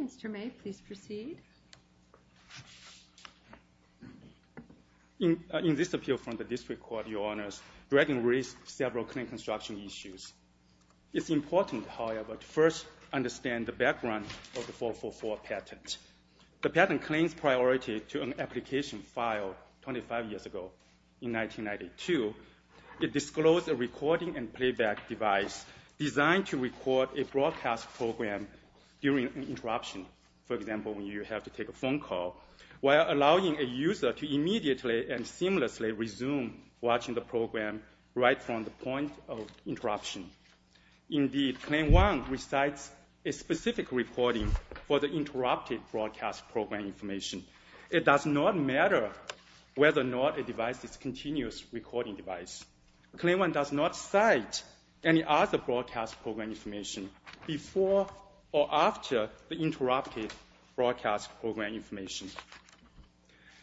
Mr. May, please proceed. In this appeal from the District Court, Your Honors, Dragon raised several claim construction issues. It's important, however, to first understand the background of the 444 patent. The patent claims priority to an application filed 25 years ago in 1992. It disclosed a recording and playback device designed to record a broadcast program during an interruption, for example, when you have to take a phone call, while allowing a user to immediately and seamlessly resume watching the program right from the point of interruption. Indeed, Claim 1 recites a specific recording for the interrupted broadcast program information. It does not matter whether or not a device is a continuous recording device. Claim 1 does not cite any other broadcast program information before or after the interrupted broadcast program information.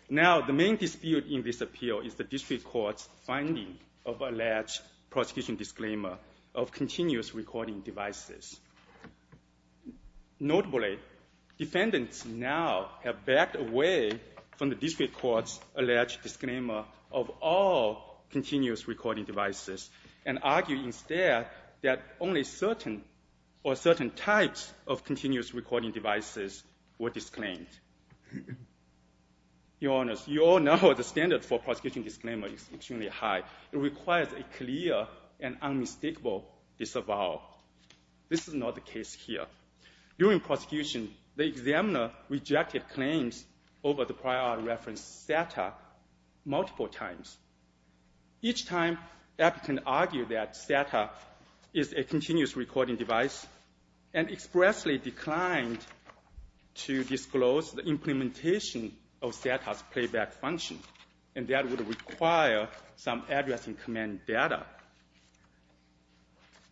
Now, the main dispute in this appeal is the District Court's finding of alleged prosecution disclaimer of continuous recording devices. Notably, defendants now have backed away from the District Court's alleged disclaimer of all continuous recording devices and argue instead that only certain or certain types of continuous recording devices were disclaimed. Your Honors, you all know the standard for prosecution disclaimer is extremely high. It requires a clear and unmistakable disavowal. This is not the case here. During prosecution, the examiner rejected claims over the reference SATA multiple times. Each time, applicants argued that SATA is a continuous recording device and expressly declined to disclose the implementation of SATA's playback function, and that would require some address and command data.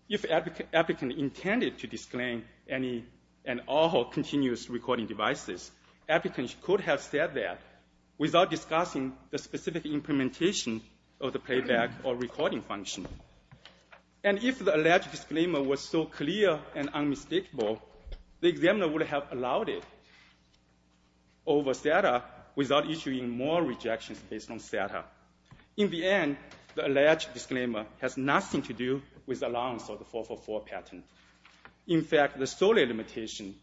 If applicants intended to disclaim any and all playback without discussing the specific implementation of the playback or recording function, and if the alleged disclaimer was so clear and unmistakable, the examiner would have allowed it over SATA without issuing more rejections based on SATA. In the end, the alleged disclaimer has nothing to do with the allowance or the 444 patent. In fact, the solely limitation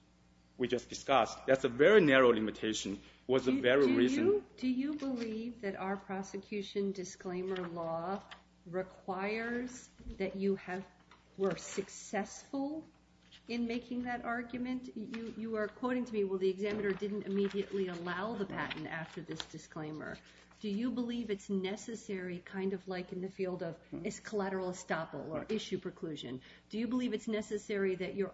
we just discussed, that's a very narrow limitation, was the very reason... Do you believe that our prosecution disclaimer law requires that you were successful in making that argument? You are quoting to me, well the examiner didn't immediately allow the patent after this disclaimer. Do you believe it's necessary, kind of like in the field of collateral estoppel or issue preclusion, do you believe it's necessary that your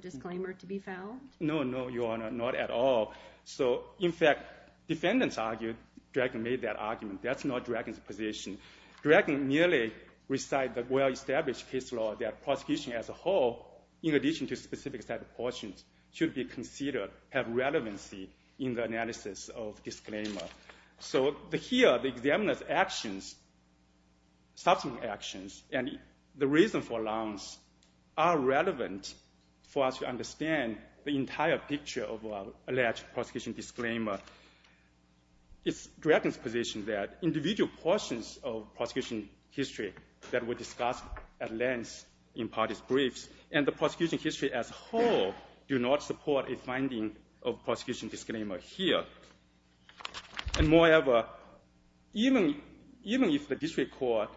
disclaimer to be fouled? No, no, Your Honor, not at all. So in fact, defendants argued Dragon made that argument. That's not Dragon's position. Dragon merely recited the well-established case law that prosecution as a whole, in addition to specific SATA portions, should be considered have relevancy in the analysis of disclaimer. So here, the examiner's actions, subsequent actions, and the reason for allowance are relevant for us to understand the entire picture of alleged prosecution disclaimer. It's Dragon's position that individual portions of prosecution history that were discussed at length in parties' briefs and the prosecution history as a whole do not support a finding of prosecution disclaimer here. And moreover, even if the district court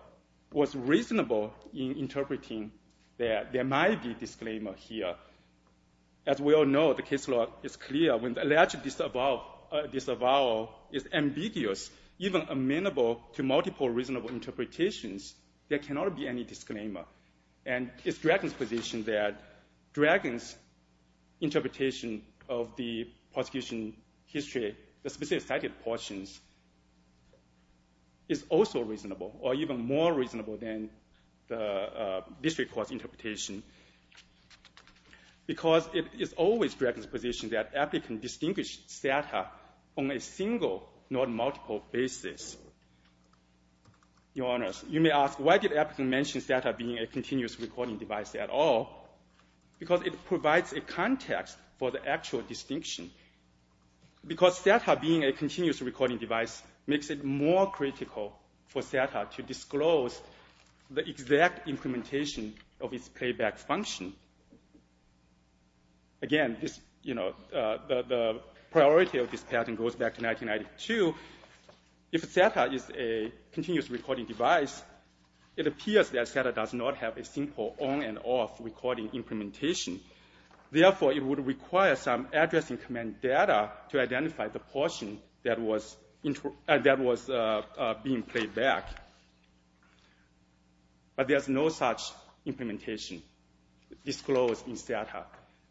was reasonable in interpreting that there might be disclaimer here, as we all know the case law is clear when the alleged disavowal is ambiguous, even amenable to multiple reasonable interpretations, there cannot be any disclaimer. And it's Dragon's position that Dragon's interpretation of the prosecution history, the specific SATA portions, is also reasonable or even more reasonable than the district court's interpretation, because it is always Dragon's position that applicants distinguish SATA on a single, not multiple, basis. Your Honors, you may ask, why did applicants mention SATA being a continuous recording device at all? Because it provides a context for the actual distinction. Because SATA being a continuous recording device makes it more critical for SATA to disclose the exact implementation of its playback function. Again, the priority of this pattern goes back to 1992. If SATA is a continuous recording device, it appears that SATA does not have a simple on and off recording implementation. Therefore, it would require some addressing command data to identify the portion that was being played back. But there's no such implementation disclosed in SATA.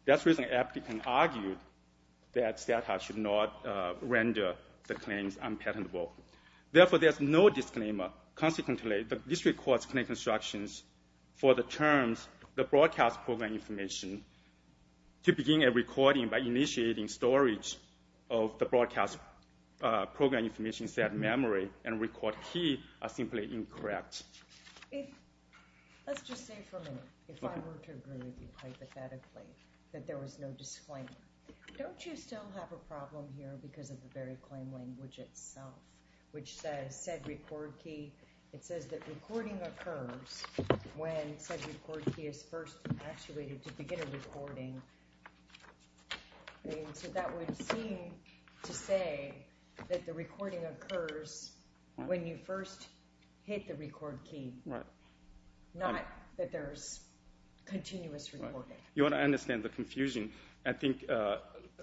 That's the reason applicants argued that SATA should not render the claims unpatentable. Therefore, there's no disclaimer. Consequently, the district court's claim constructions for the terms, the broadcast program information, to begin a recording by initiating storage of the broadcast program information set memory and record key are simply incorrect. Let's just say for a minute, if I were to agree with you hypothetically, that there was no disclaimer, don't you still have a problem here because of the very claim language itself, which says said record key, it says that recording occurs when said record key is first actuated to begin a recording. So that would seem to say that the recording occurs when you first hit the record key, not that there's continuous recording. You want to understand the confusion. I think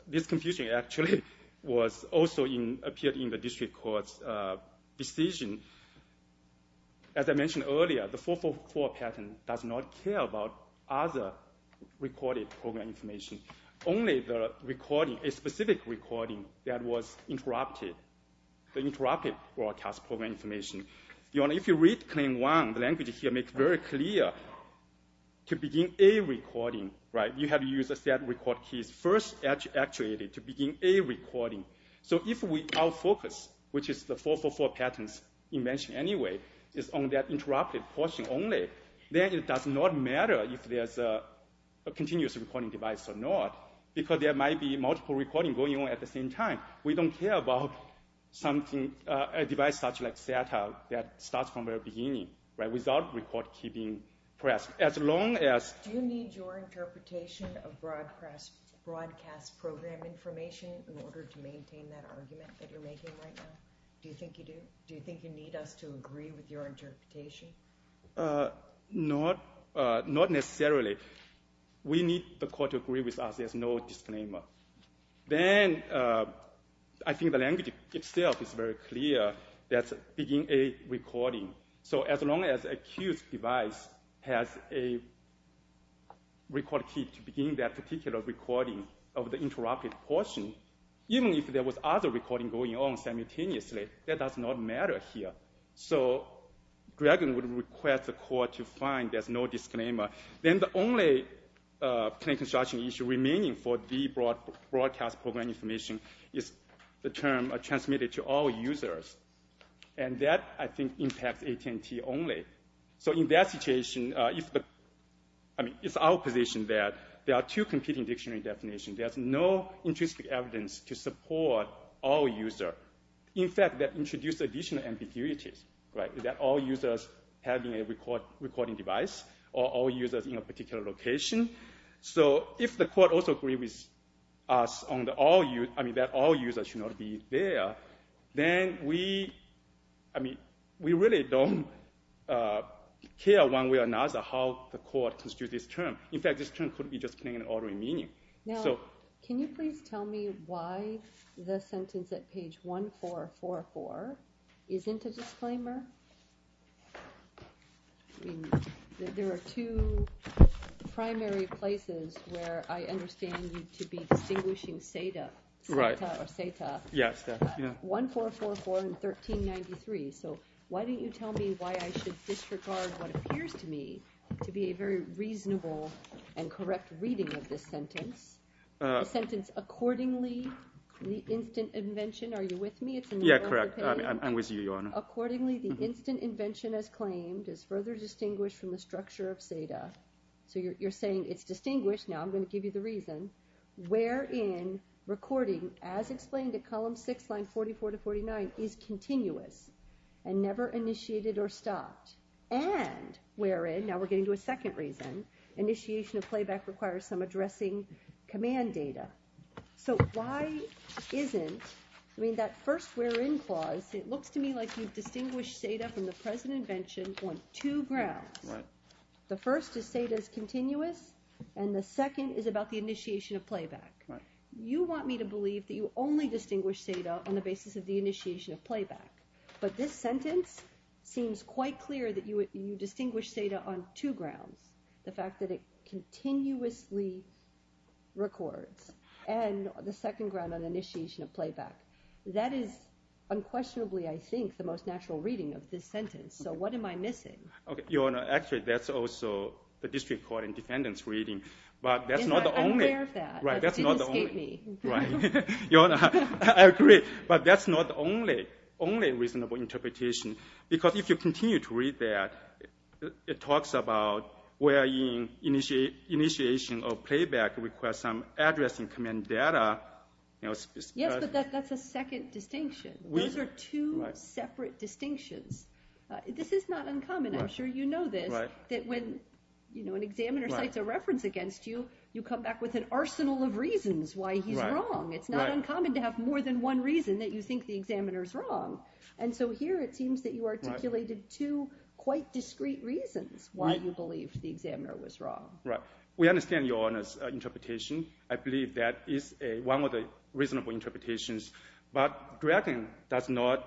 this confusion actually was also in appeared in the district court's decision. As I mentioned earlier, the 444 patent does not care about other recorded program information, only the recording, a specific recording that was interrupted, the interrupted broadcast program information. If you read Claim 1, the language here makes it very clear, to begin a recording, you have to use a set record keys first actuated to begin a recording. So if we out-focus, which is the 444 patent's invention anyway, is on that interrupted portion only, then it does not matter if there's a continuous recording device or not, because there might be multiple recording going on at the same time. We don't care about something, a device such like SATA, that starts from the very beginning, right, without record key being pressed, as long as... Do you need your interpretation of broadcast program information in order to maintain that argument that you're making right now? Do you think you do? Do you think you need us to agree with your interpretation? Not necessarily. We need the court to agree with us, there's no disclaimer. Then, I think the language itself is very clear, that's begin a recording. So as long as a cues device has a record key to begin that particular recording of the interrupted portion, even if there was other recording going on simultaneously, that does not matter here. So, Greg would request the court to find there's no disclaimer. Then the only plain construction issue remaining for the broadcast program information is the term transmitted to all users. And that, I think, impacts AT&T only. So in that situation, if the... I mean, it's our position that there are two competing dictionary definitions. There's no intrinsic evidence to support all users. In fact, that introduces additional ambiguities, right, that all users having a recording device, or all users in a particular location. So if the court also agrees with us on that all users should not be there, then we... I mean, we really don't care one way or another how the court constitutes this term. In fact, this term could be just plain and ordinary meaning. Now, can you please tell me why the sentence at page 1444 isn't a disclaimer? There are two primary places where I understand you to be distinguishing SETA. Right. Or SETA. Yes, yeah. 1444 and 1393. So why didn't you tell me why I should disregard what appears to me to be a very reasonable and correct reading of this sentence? The sentence, accordingly, the instant invention... Are you with me? Yeah, correct. I'm with you, Your Honor. Accordingly, the instant invention, as claimed, is further distinguished from the structure of SETA. So you're saying it's distinguished. Now I'm going to give you the reason. Wherein recording, as explained at column six, line 44 to 49, is continuous and never initiated or stopped. And wherein, now we're getting to a second reason, initiation of playback requires some addressing command data. So why isn't... I mean, that first wherein clause, it looks to me like you've distinguished SETA from the present invention on two grounds. The first is SETA is continuous, and the second is about the initiation of playback. You want me to believe that you only distinguish SETA on the basis of the initiation of playback. But this is quite clear that you distinguish SETA on two grounds. The fact that it continuously records. And the second ground on initiation of playback. That is unquestionably, I think, the most natural reading of this sentence. So what am I missing? Okay, Your Honor, actually that's also the district court and defendants reading. But that's not the only... I'm aware of that, but it didn't escape me. Your Honor, I agree. But that's not the only reasonable interpretation. Because if you continue to read that, it talks about wherein initiation of playback requires some addressing command data. Yes, but that's a second distinction. Those are two separate distinctions. This is not uncommon. I'm sure you know this, that when, you know, an examiner cites a reference against you, you come back with an arsenal of reasons why he's wrong. It's not uncommon to have more than one reason that you think the examiner's wrong. And so here it seems that you articulated two quite discreet reasons why you believe the examiner was wrong. Right. We understand Your Honor's interpretation. I believe that is a one of the reasonable interpretations. But Dragon does not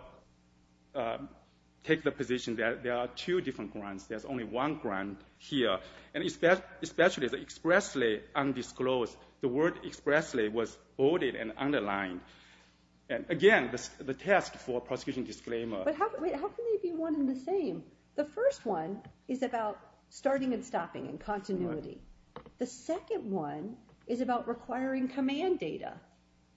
take the position that there are two different grounds. There's only one ground here. And it's that especially the expressly undisclosed. The word expressly was bolded and one and the same. The first one is about starting and stopping and continuity. The second one is about requiring command data.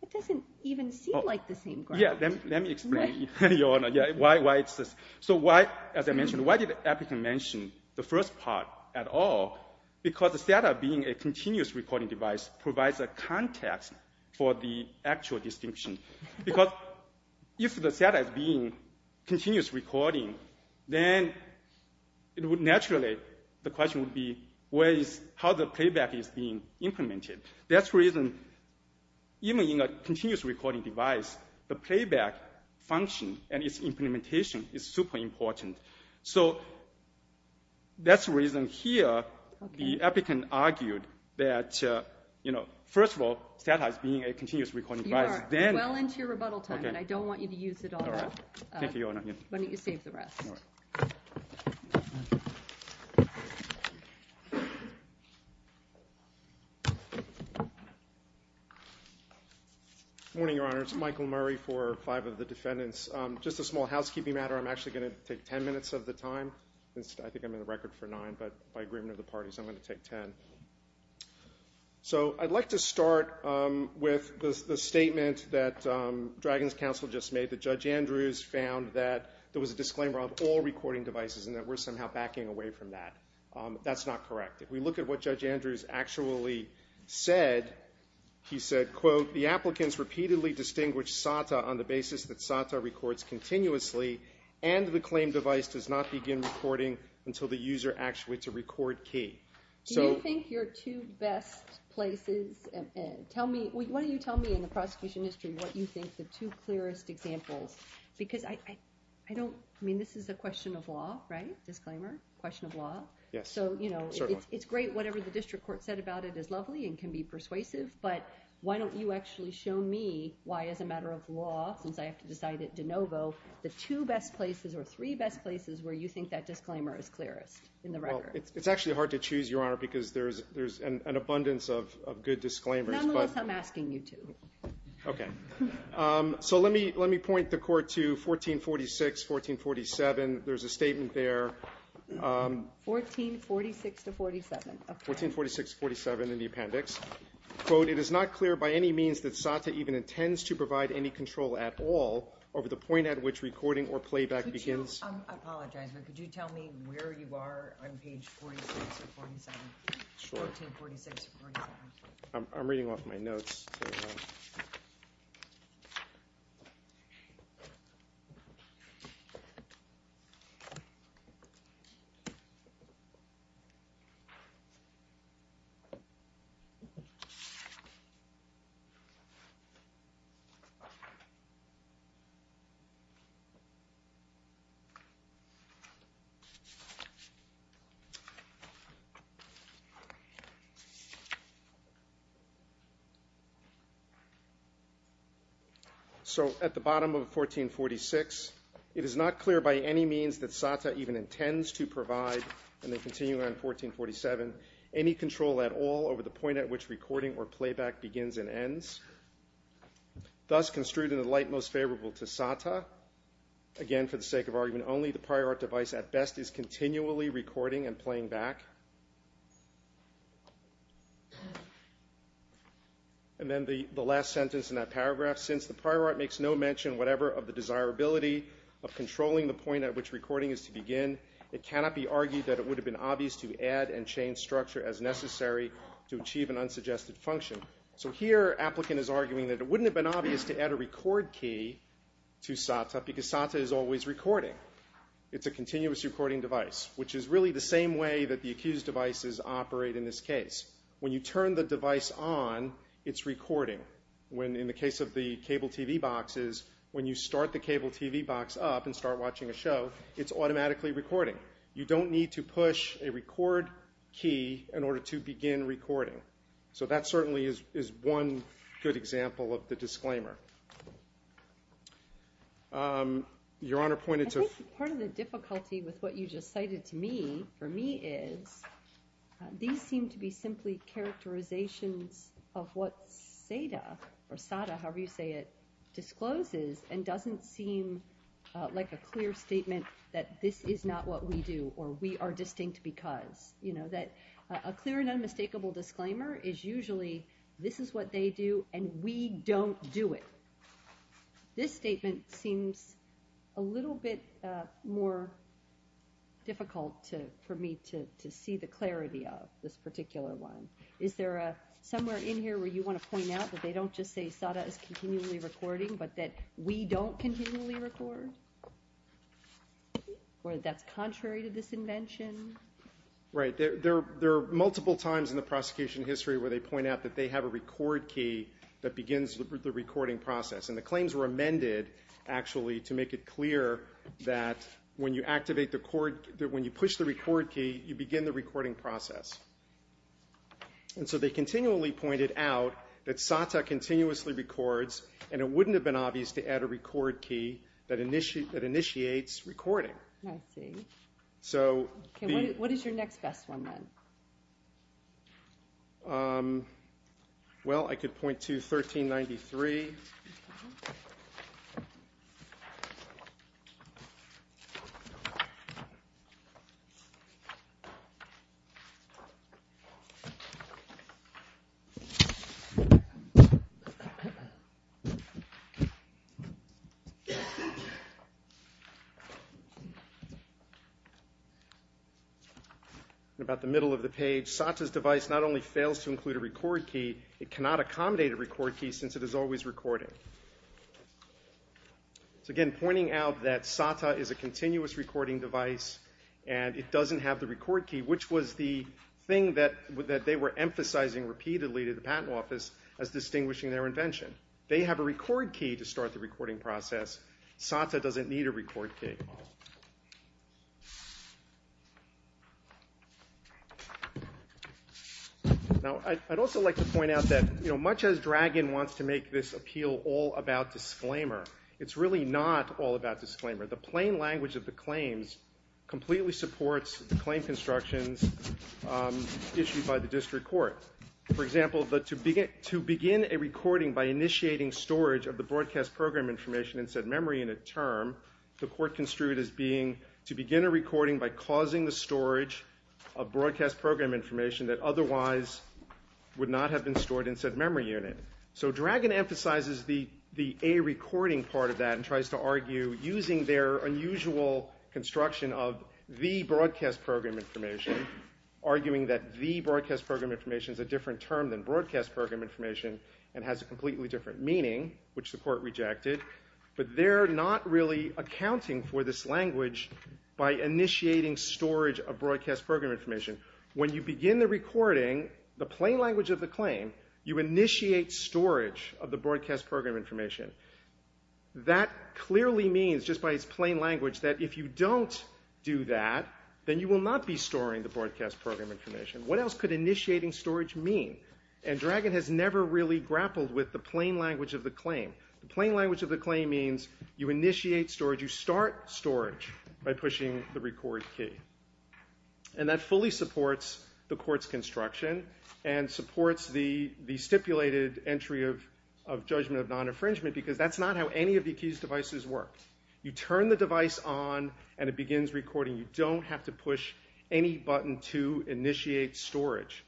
It doesn't even seem like the same ground. Yeah, let me explain, Your Honor, why it's this. So why, as I mentioned, why did Appleton mention the first part at all? Because the SATA being a continuous recording device provides a context for the actual distinction. Because if the SATA is a continuous recording device, then it would naturally, the question would be, where is, how the playback is being implemented. That's the reason, even in a continuous recording device, the playback function and its implementation is super important. So that's the reason here the applicant argued that, you know, first of all, SATA is being a continuous recording device. You are well into your rebuttal time and I don't want you to use it all up. Thank you, Your Honor. Why don't you save the rest. Morning, Your Honor. It's Michael Murray for five of the defendants. Just a small housekeeping matter. I'm actually going to take ten minutes of the time. I think I'm in the record for nine, but by agreement of the statement that Dragan's counsel just made, that Judge Andrews found that there was a disclaimer on all recording devices and that we're somehow backing away from that. That's not correct. If we look at what Judge Andrews actually said, he said, quote, the applicants repeatedly distinguish SATA on the basis that SATA records continuously and the claimed device does not begin recording until the prosecution history what you think the two clearest examples because I don't mean this is a question of law right disclaimer question of law yes so you know it's great whatever the district court said about it is lovely and can be persuasive but why don't you actually show me why as a matter of law since I have to decide it de novo the two best places or three best places where you think that disclaimer is clearest in the record it's actually hard to choose your disclaimers I'm asking you to okay so let me let me point the court to 1446 1447 there's a statement there 1446 to 47 1446 47 in the appendix quote it is not clear by any means that SATA even intends to provide any control at all over the point at which recording or playback begins I'm reading off my notes so at the bottom of 1446 it is not clear by any means that SATA even intends to provide and they continue on 1447 any control at all over the point at which recording or playback begins and ends thus construed in the light most favorable to SATA again for the sake of argument only the prior art device at best is continually recording and playing back and then the the last sentence in that paragraph since the prior art makes no mention whatever of the desirability of controlling the point at which recording is to begin it cannot be argued that it would have been obvious to add and change structure as necessary to achieve an unsuggested function so here applicant is arguing that it wouldn't have been obvious to add a record key to SATA because SATA is always recording it's a continuous recording device which is really the same way that the accused devices operate in this case when you turn the device on its recording when in the case of the cable TV boxes when you start the cable TV box up and start watching a show it's automatically recording you don't need to push a record key in order to begin recording so that certainly is one good example of the disclaimer your honor pointed to part of the difficulty with what you just cited to me for me is these seem to be simply characterizations of what SATA or SATA however you say it discloses and doesn't seem like a clear statement that this is not what we do or we are distinct because you know that a clear and unmistakable disclaimer is usually this is what they do and we don't do it this statement seems a little bit more difficult to for me to see the clarity of this particular one is there a somewhere in here where you want to point out that they don't just say SATA is continually recording but that we don't continually record or that's invention right there there are multiple times in the prosecution history where they point out that they have a record key that begins with the recording process and the claims were amended actually to make it clear that when you activate the court that when you push the record key you begin the recording process and so they continually pointed out that SATA continuously records and it wouldn't have been obvious to add a record key that initiate that initiates recording so what is your next best one then well I could point to 1393 about the middle of the page SATA's device not only fails to include a record key it cannot accommodate a record key since it is always recording again pointing out that SATA is a continuous recording device and it doesn't have the record key which was the thing that with that they were emphasizing repeatedly to the patent office as distinguishing their invention they have a record key to start the recording process SATA doesn't need a record key now I'd also like to point out that you know much as dragon wants to make this appeal all about disclaimer it's really not all about disclaimer the plain language of the claims completely supports the claim constructions issued by the district court for example but to begin to begin a recording by initiating storage of the broadcast program information and said memory in a term the court construed as being to begin a recording by causing the storage of broadcast program information that otherwise would not have been stored in said memory unit so dragon emphasizes the the a recording part of that and tries to argue using their unusual construction of the broadcast program information arguing that the broadcast program information is a different term than broadcast program information and has a completely different meaning which the court rejected but they're not really accounting for this language by initiating storage of broadcast program information when you begin the recording the plain language of the claim you initiate storage of the broadcast program information that clearly means just by its plain language that if you don't do that then you will not be storing the broadcast program information what else could initiating storage mean and dragon has never really plain language of the claim means you initiate storage you start storage by pushing the record key and that fully supports the court's construction and supports the the stipulated entry of of judgment of non-infringement because that's not how any of the keys devices work you turn the device on and it begins recording you don't have to push any button to initiate storage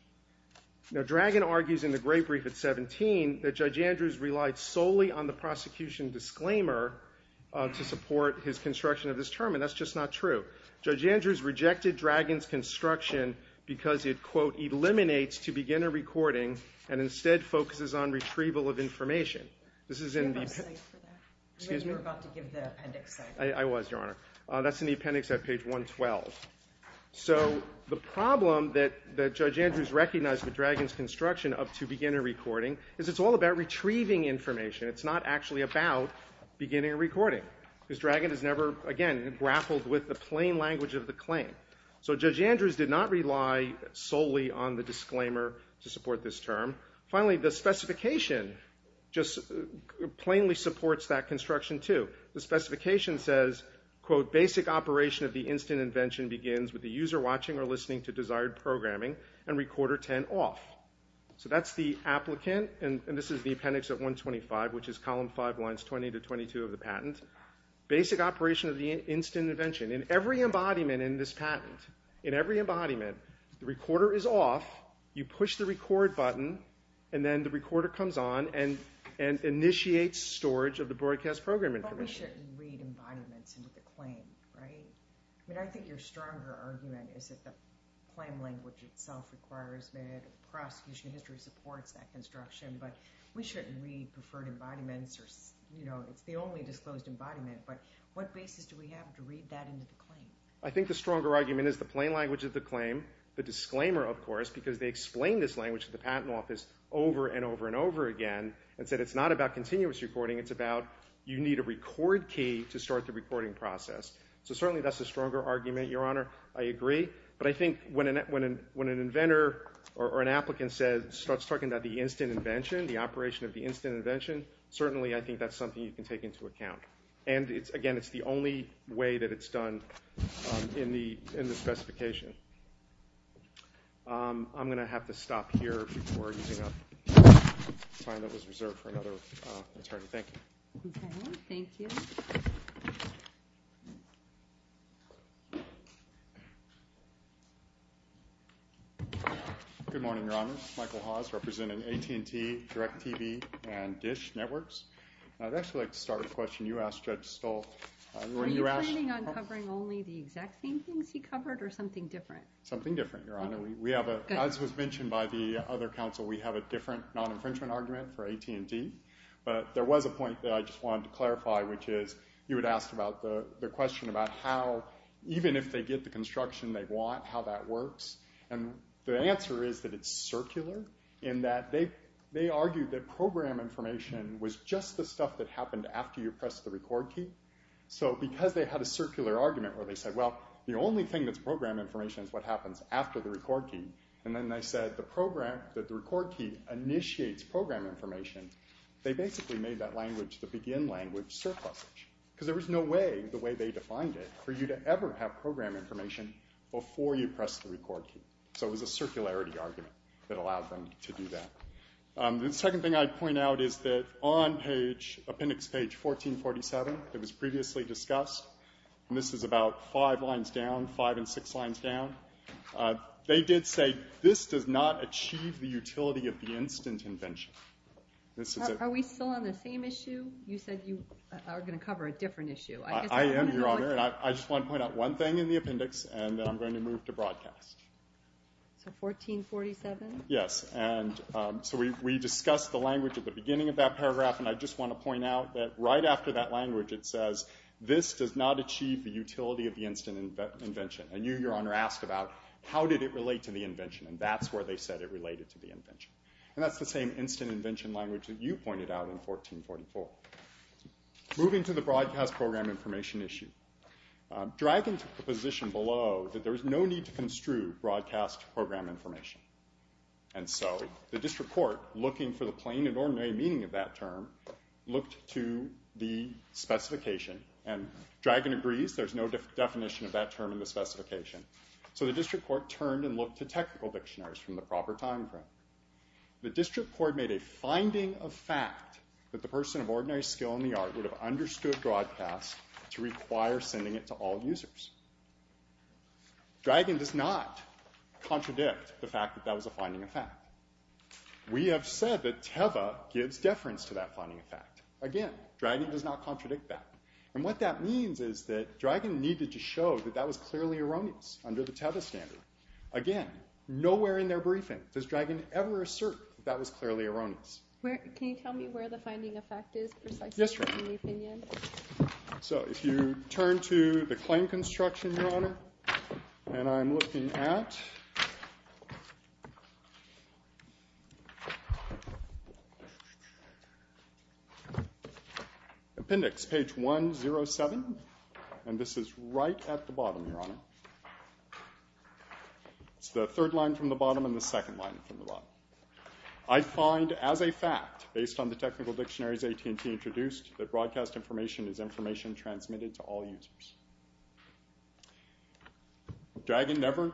now dragon argues in the great brief at 17 that judge Andrews relied solely on the prosecution disclaimer to support his construction of this term and that's just not true judge Andrews rejected dragons construction because it quote eliminates to begin a recording and instead focuses on retrieval of information this is in I was your honor that's an appendix at page 112 so the beginning recording is not actually about beginning recording his dragon is never again grappled with the plain language of the claim so judge Andrews did not rely solely on the disclaimer to support this term finally the specification just plainly supports that construction to the specification says quote basic operation of the instant invention begins with the user watching or listening to desired programming and recorder 10 off so that's the applicant and this is the appendix at 125 which is column 5 lines 20 to 22 of the patent basic operation of the instant invention in every embodiment in this patent in every embodiment the recorder is off you push the record button and then the recorder comes on and and initiates storage of the broadcast program I think the stronger argument is the plain language of the claim the disclaimer of course because they explain this language of the patent office over and over and over again and said it's not about continuous recording it's about you need a record key to start the recording process so certainly that's a stronger argument your honor I agree but I think when an inventor or an applicant says starts talking about the instant invention the operation of the instant invention certainly I think that's something you can take into account and it's again it's the only way that it's done in the specification I'm gonna have to stop here good morning your honor Michael Hawes representing AT&T direct TV and dish networks I'd actually like to start a question you asked judge stole covering only the exact same things he covered or something different something different your honor we have a as was mentioned by the other council we have a different non-infringement argument for AT&T but there was a point that I just wanted to clarify which is you would ask about the question about how even if they get the construction they want how that works and the answer is that it's circular in that they they argued that program information was just the stuff that happened after you press the record key so because they had a circular argument where they said well the only thing that's program information is what happens after the record key and then they said the program that the record key initiates program information they basically made that language the begin language surplusage because there was no way the way they defined it for you to ever have program information before you press the record key so it was a circularity argument that allowed them to do that the second thing I point out is that on page appendix page 1447 it was previously discussed and this is about five lines down five and six lines down they did say this does not achieve the utility of the instant invention this is are we still on the same issue you said you are gonna cover a different issue I am your honor and I just want to point out one thing in the appendix and I'm we discussed the language at the beginning of that paragraph and I just want to point out that right after that language it says this does not achieve the utility of the instant invention and you your honor asked about how did it relate to the invention and that's where they said it related to the invention and that's the same instant invention language that you pointed out in 1444 moving to the broadcast program information issue driving to the position below that there is no need to construe broadcast program information and so the district court looking for the plain and ordinary meaning of that term looked to the specification and dragon agrees there's no definition of that term in the specification so the district court turned and looked to technical dictionaries from the proper time frame the district court made a finding of fact that the person of ordinary skill in the art would have understood broadcast to require sending it to all users dragon does not contradict the fact that that was a finding of fact we have said that Teva gives deference to that finding of fact again dragon does not contradict that and what that means is that dragon needed to show that that was clearly erroneous under the Teva standard again nowhere in their briefing does dragon ever assert that was clearly erroneous where can you tell me where the finding of fact is yes so if you turn to the claim construction your honor and I'm looking at appendix page 107 and this is right at the bottom your honor it's the third line from the bottom and the second line from the bottom I find as a fact based on the technical dictionaries AT&T introduced that broadcast information is information transmitted to all users dragon never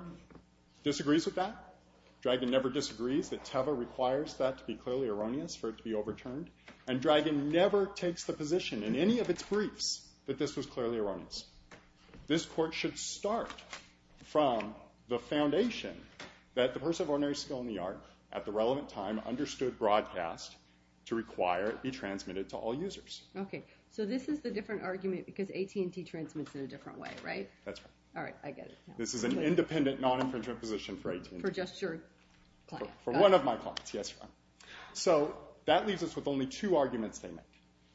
disagrees with that dragon never disagrees that Teva requires that to be clearly erroneous for it to be overturned and dragon never takes the position in any of its briefs that this was clearly erroneous this court should start from the foundation that the person of ordinary skill in the art at the relevant time understood broadcast to require it be transmitted to all users okay so this is the different argument because AT&T transmits in a different way right that's right all right I get it this is an independent non-infringement position for AT&T for one of my clients yes so that leaves us with only two arguments they make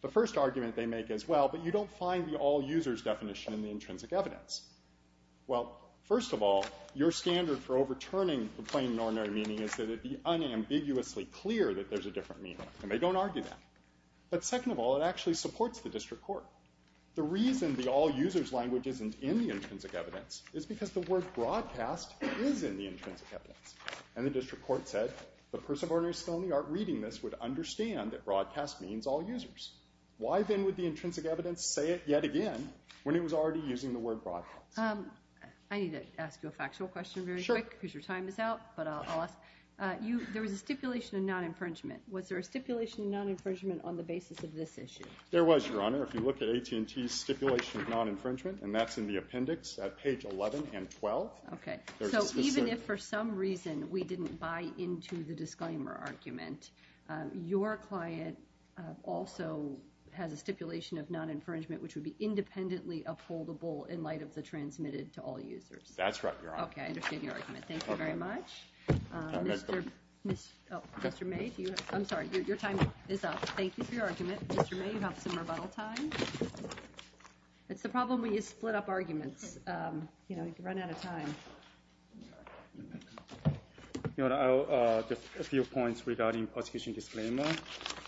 the first argument they make as well but you don't find the all users definition in the intrinsic evidence well first of all your standard for overturning the plain and ordinary meaning is that it be unambiguously clear that there's a different meaning and they don't argue that but second of all it actually supports the district court the reason the all users language isn't in the intrinsic evidence is because the word broadcast is in the intrinsic evidence and the district court said the person of ordinary skill in the art reading this would understand that broadcast means all users why then would the intrinsic evidence say it yet again when it was already using the word broadcast I need to ask you a factual question very quick because your time is out but I'll ask you there was a stipulation of non-infringement was there a stipulation of non-infringement on the basis of this issue there was your honor if you look at AT&T stipulation of non-infringement and that's in the appendix at page 11 and 12 okay so even if for some reason we didn't buy into the disclaimer argument your client also has a stipulation of non-infringement which would be independently upholdable in light of the transmitted to all users that's right okay I understand your argument thank you very much mr. mr. made you I'm sorry your time is up thank you for your argument mr. may you have some rebuttal time it's the problem when you split up arguments you know you can run out of time you know just a few points regarding prosecution disclaimer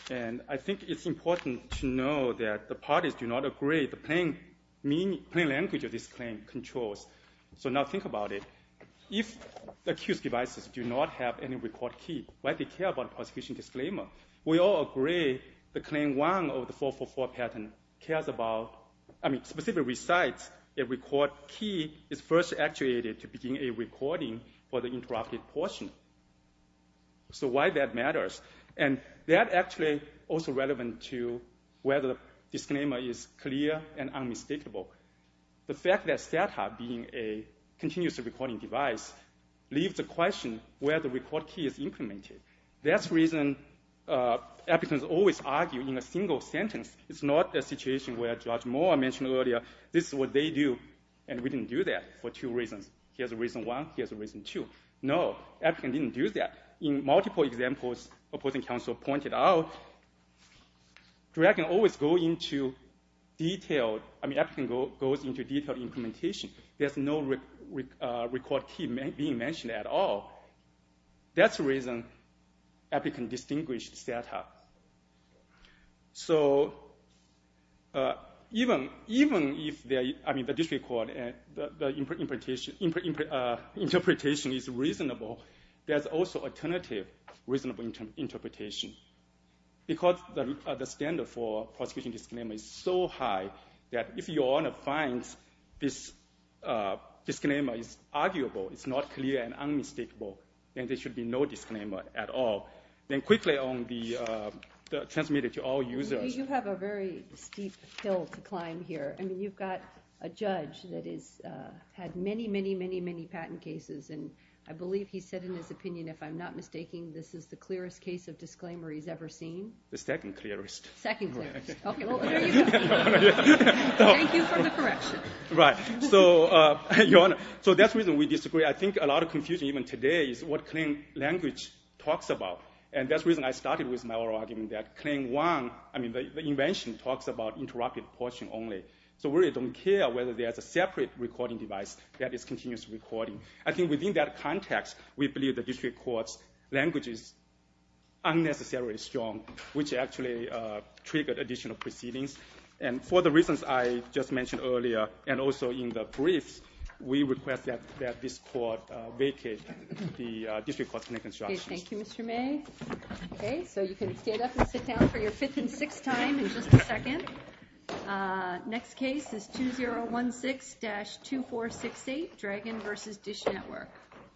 and I think it's important to know that the parties do not agree the pain mean plain language of this claim controls so now think about it if the accused devices do not have any record key why they care about prosecution disclaimer we all agree the claim one of the 444 pattern cares about I mean specifically recites a record key is first actuated to begin a recording for the interrupted portion so why that matters and that actually also relevant to whether the disclaimer is clear and mistakable the fact that setup being a continuous recording device leaves a question where the record key is implemented that's reason applicants always argue in a single sentence it's not a situation where George Moore mentioned earlier this is what they do and we didn't do that for two reasons here's a reason one here's a reason two no African didn't do that in multiple examples opposing counsel pointed out dragon always go into detail I mean everything goes into detail implementation there's no record key may be mentioned at all that's reason epic and distinguished setup so even even if they I mean the district court and interpretation interpretation is reasonable there's also alternative reasonable interpretation because the standard for prosecution disclaimer is so high that if you want to find this disclaimer is arguable it's not clear and unmistakable and there should be no disclaimer at all then quickly on the transmitted to all users you have a very steep hill to climb here I mean you've got a judge that is had many many many patent cases and I believe he said in his opinion if I'm not mistaking this is the clearest case of disclaimer he's ever seen the second clearest second right so your honor so that's reason we disagree I think a lot of confusion even today is what clean language talks about and that's reason I started with my argument that claim one I mean the invention talks about interrupted portion only so we don't care whether there's a separate recording device that is continuous recording I think within that context we believe the district court's language is unnecessarily strong which actually triggered additional proceedings and for the reasons I just mentioned earlier and also in the briefs we request that that this court vacate the district court's instructions. Thank you Mr. May. Okay, so you can stand up and sit down for your fifth and sixth time in just a second. Next case is 2016-2468 Dragon versus Dish Network.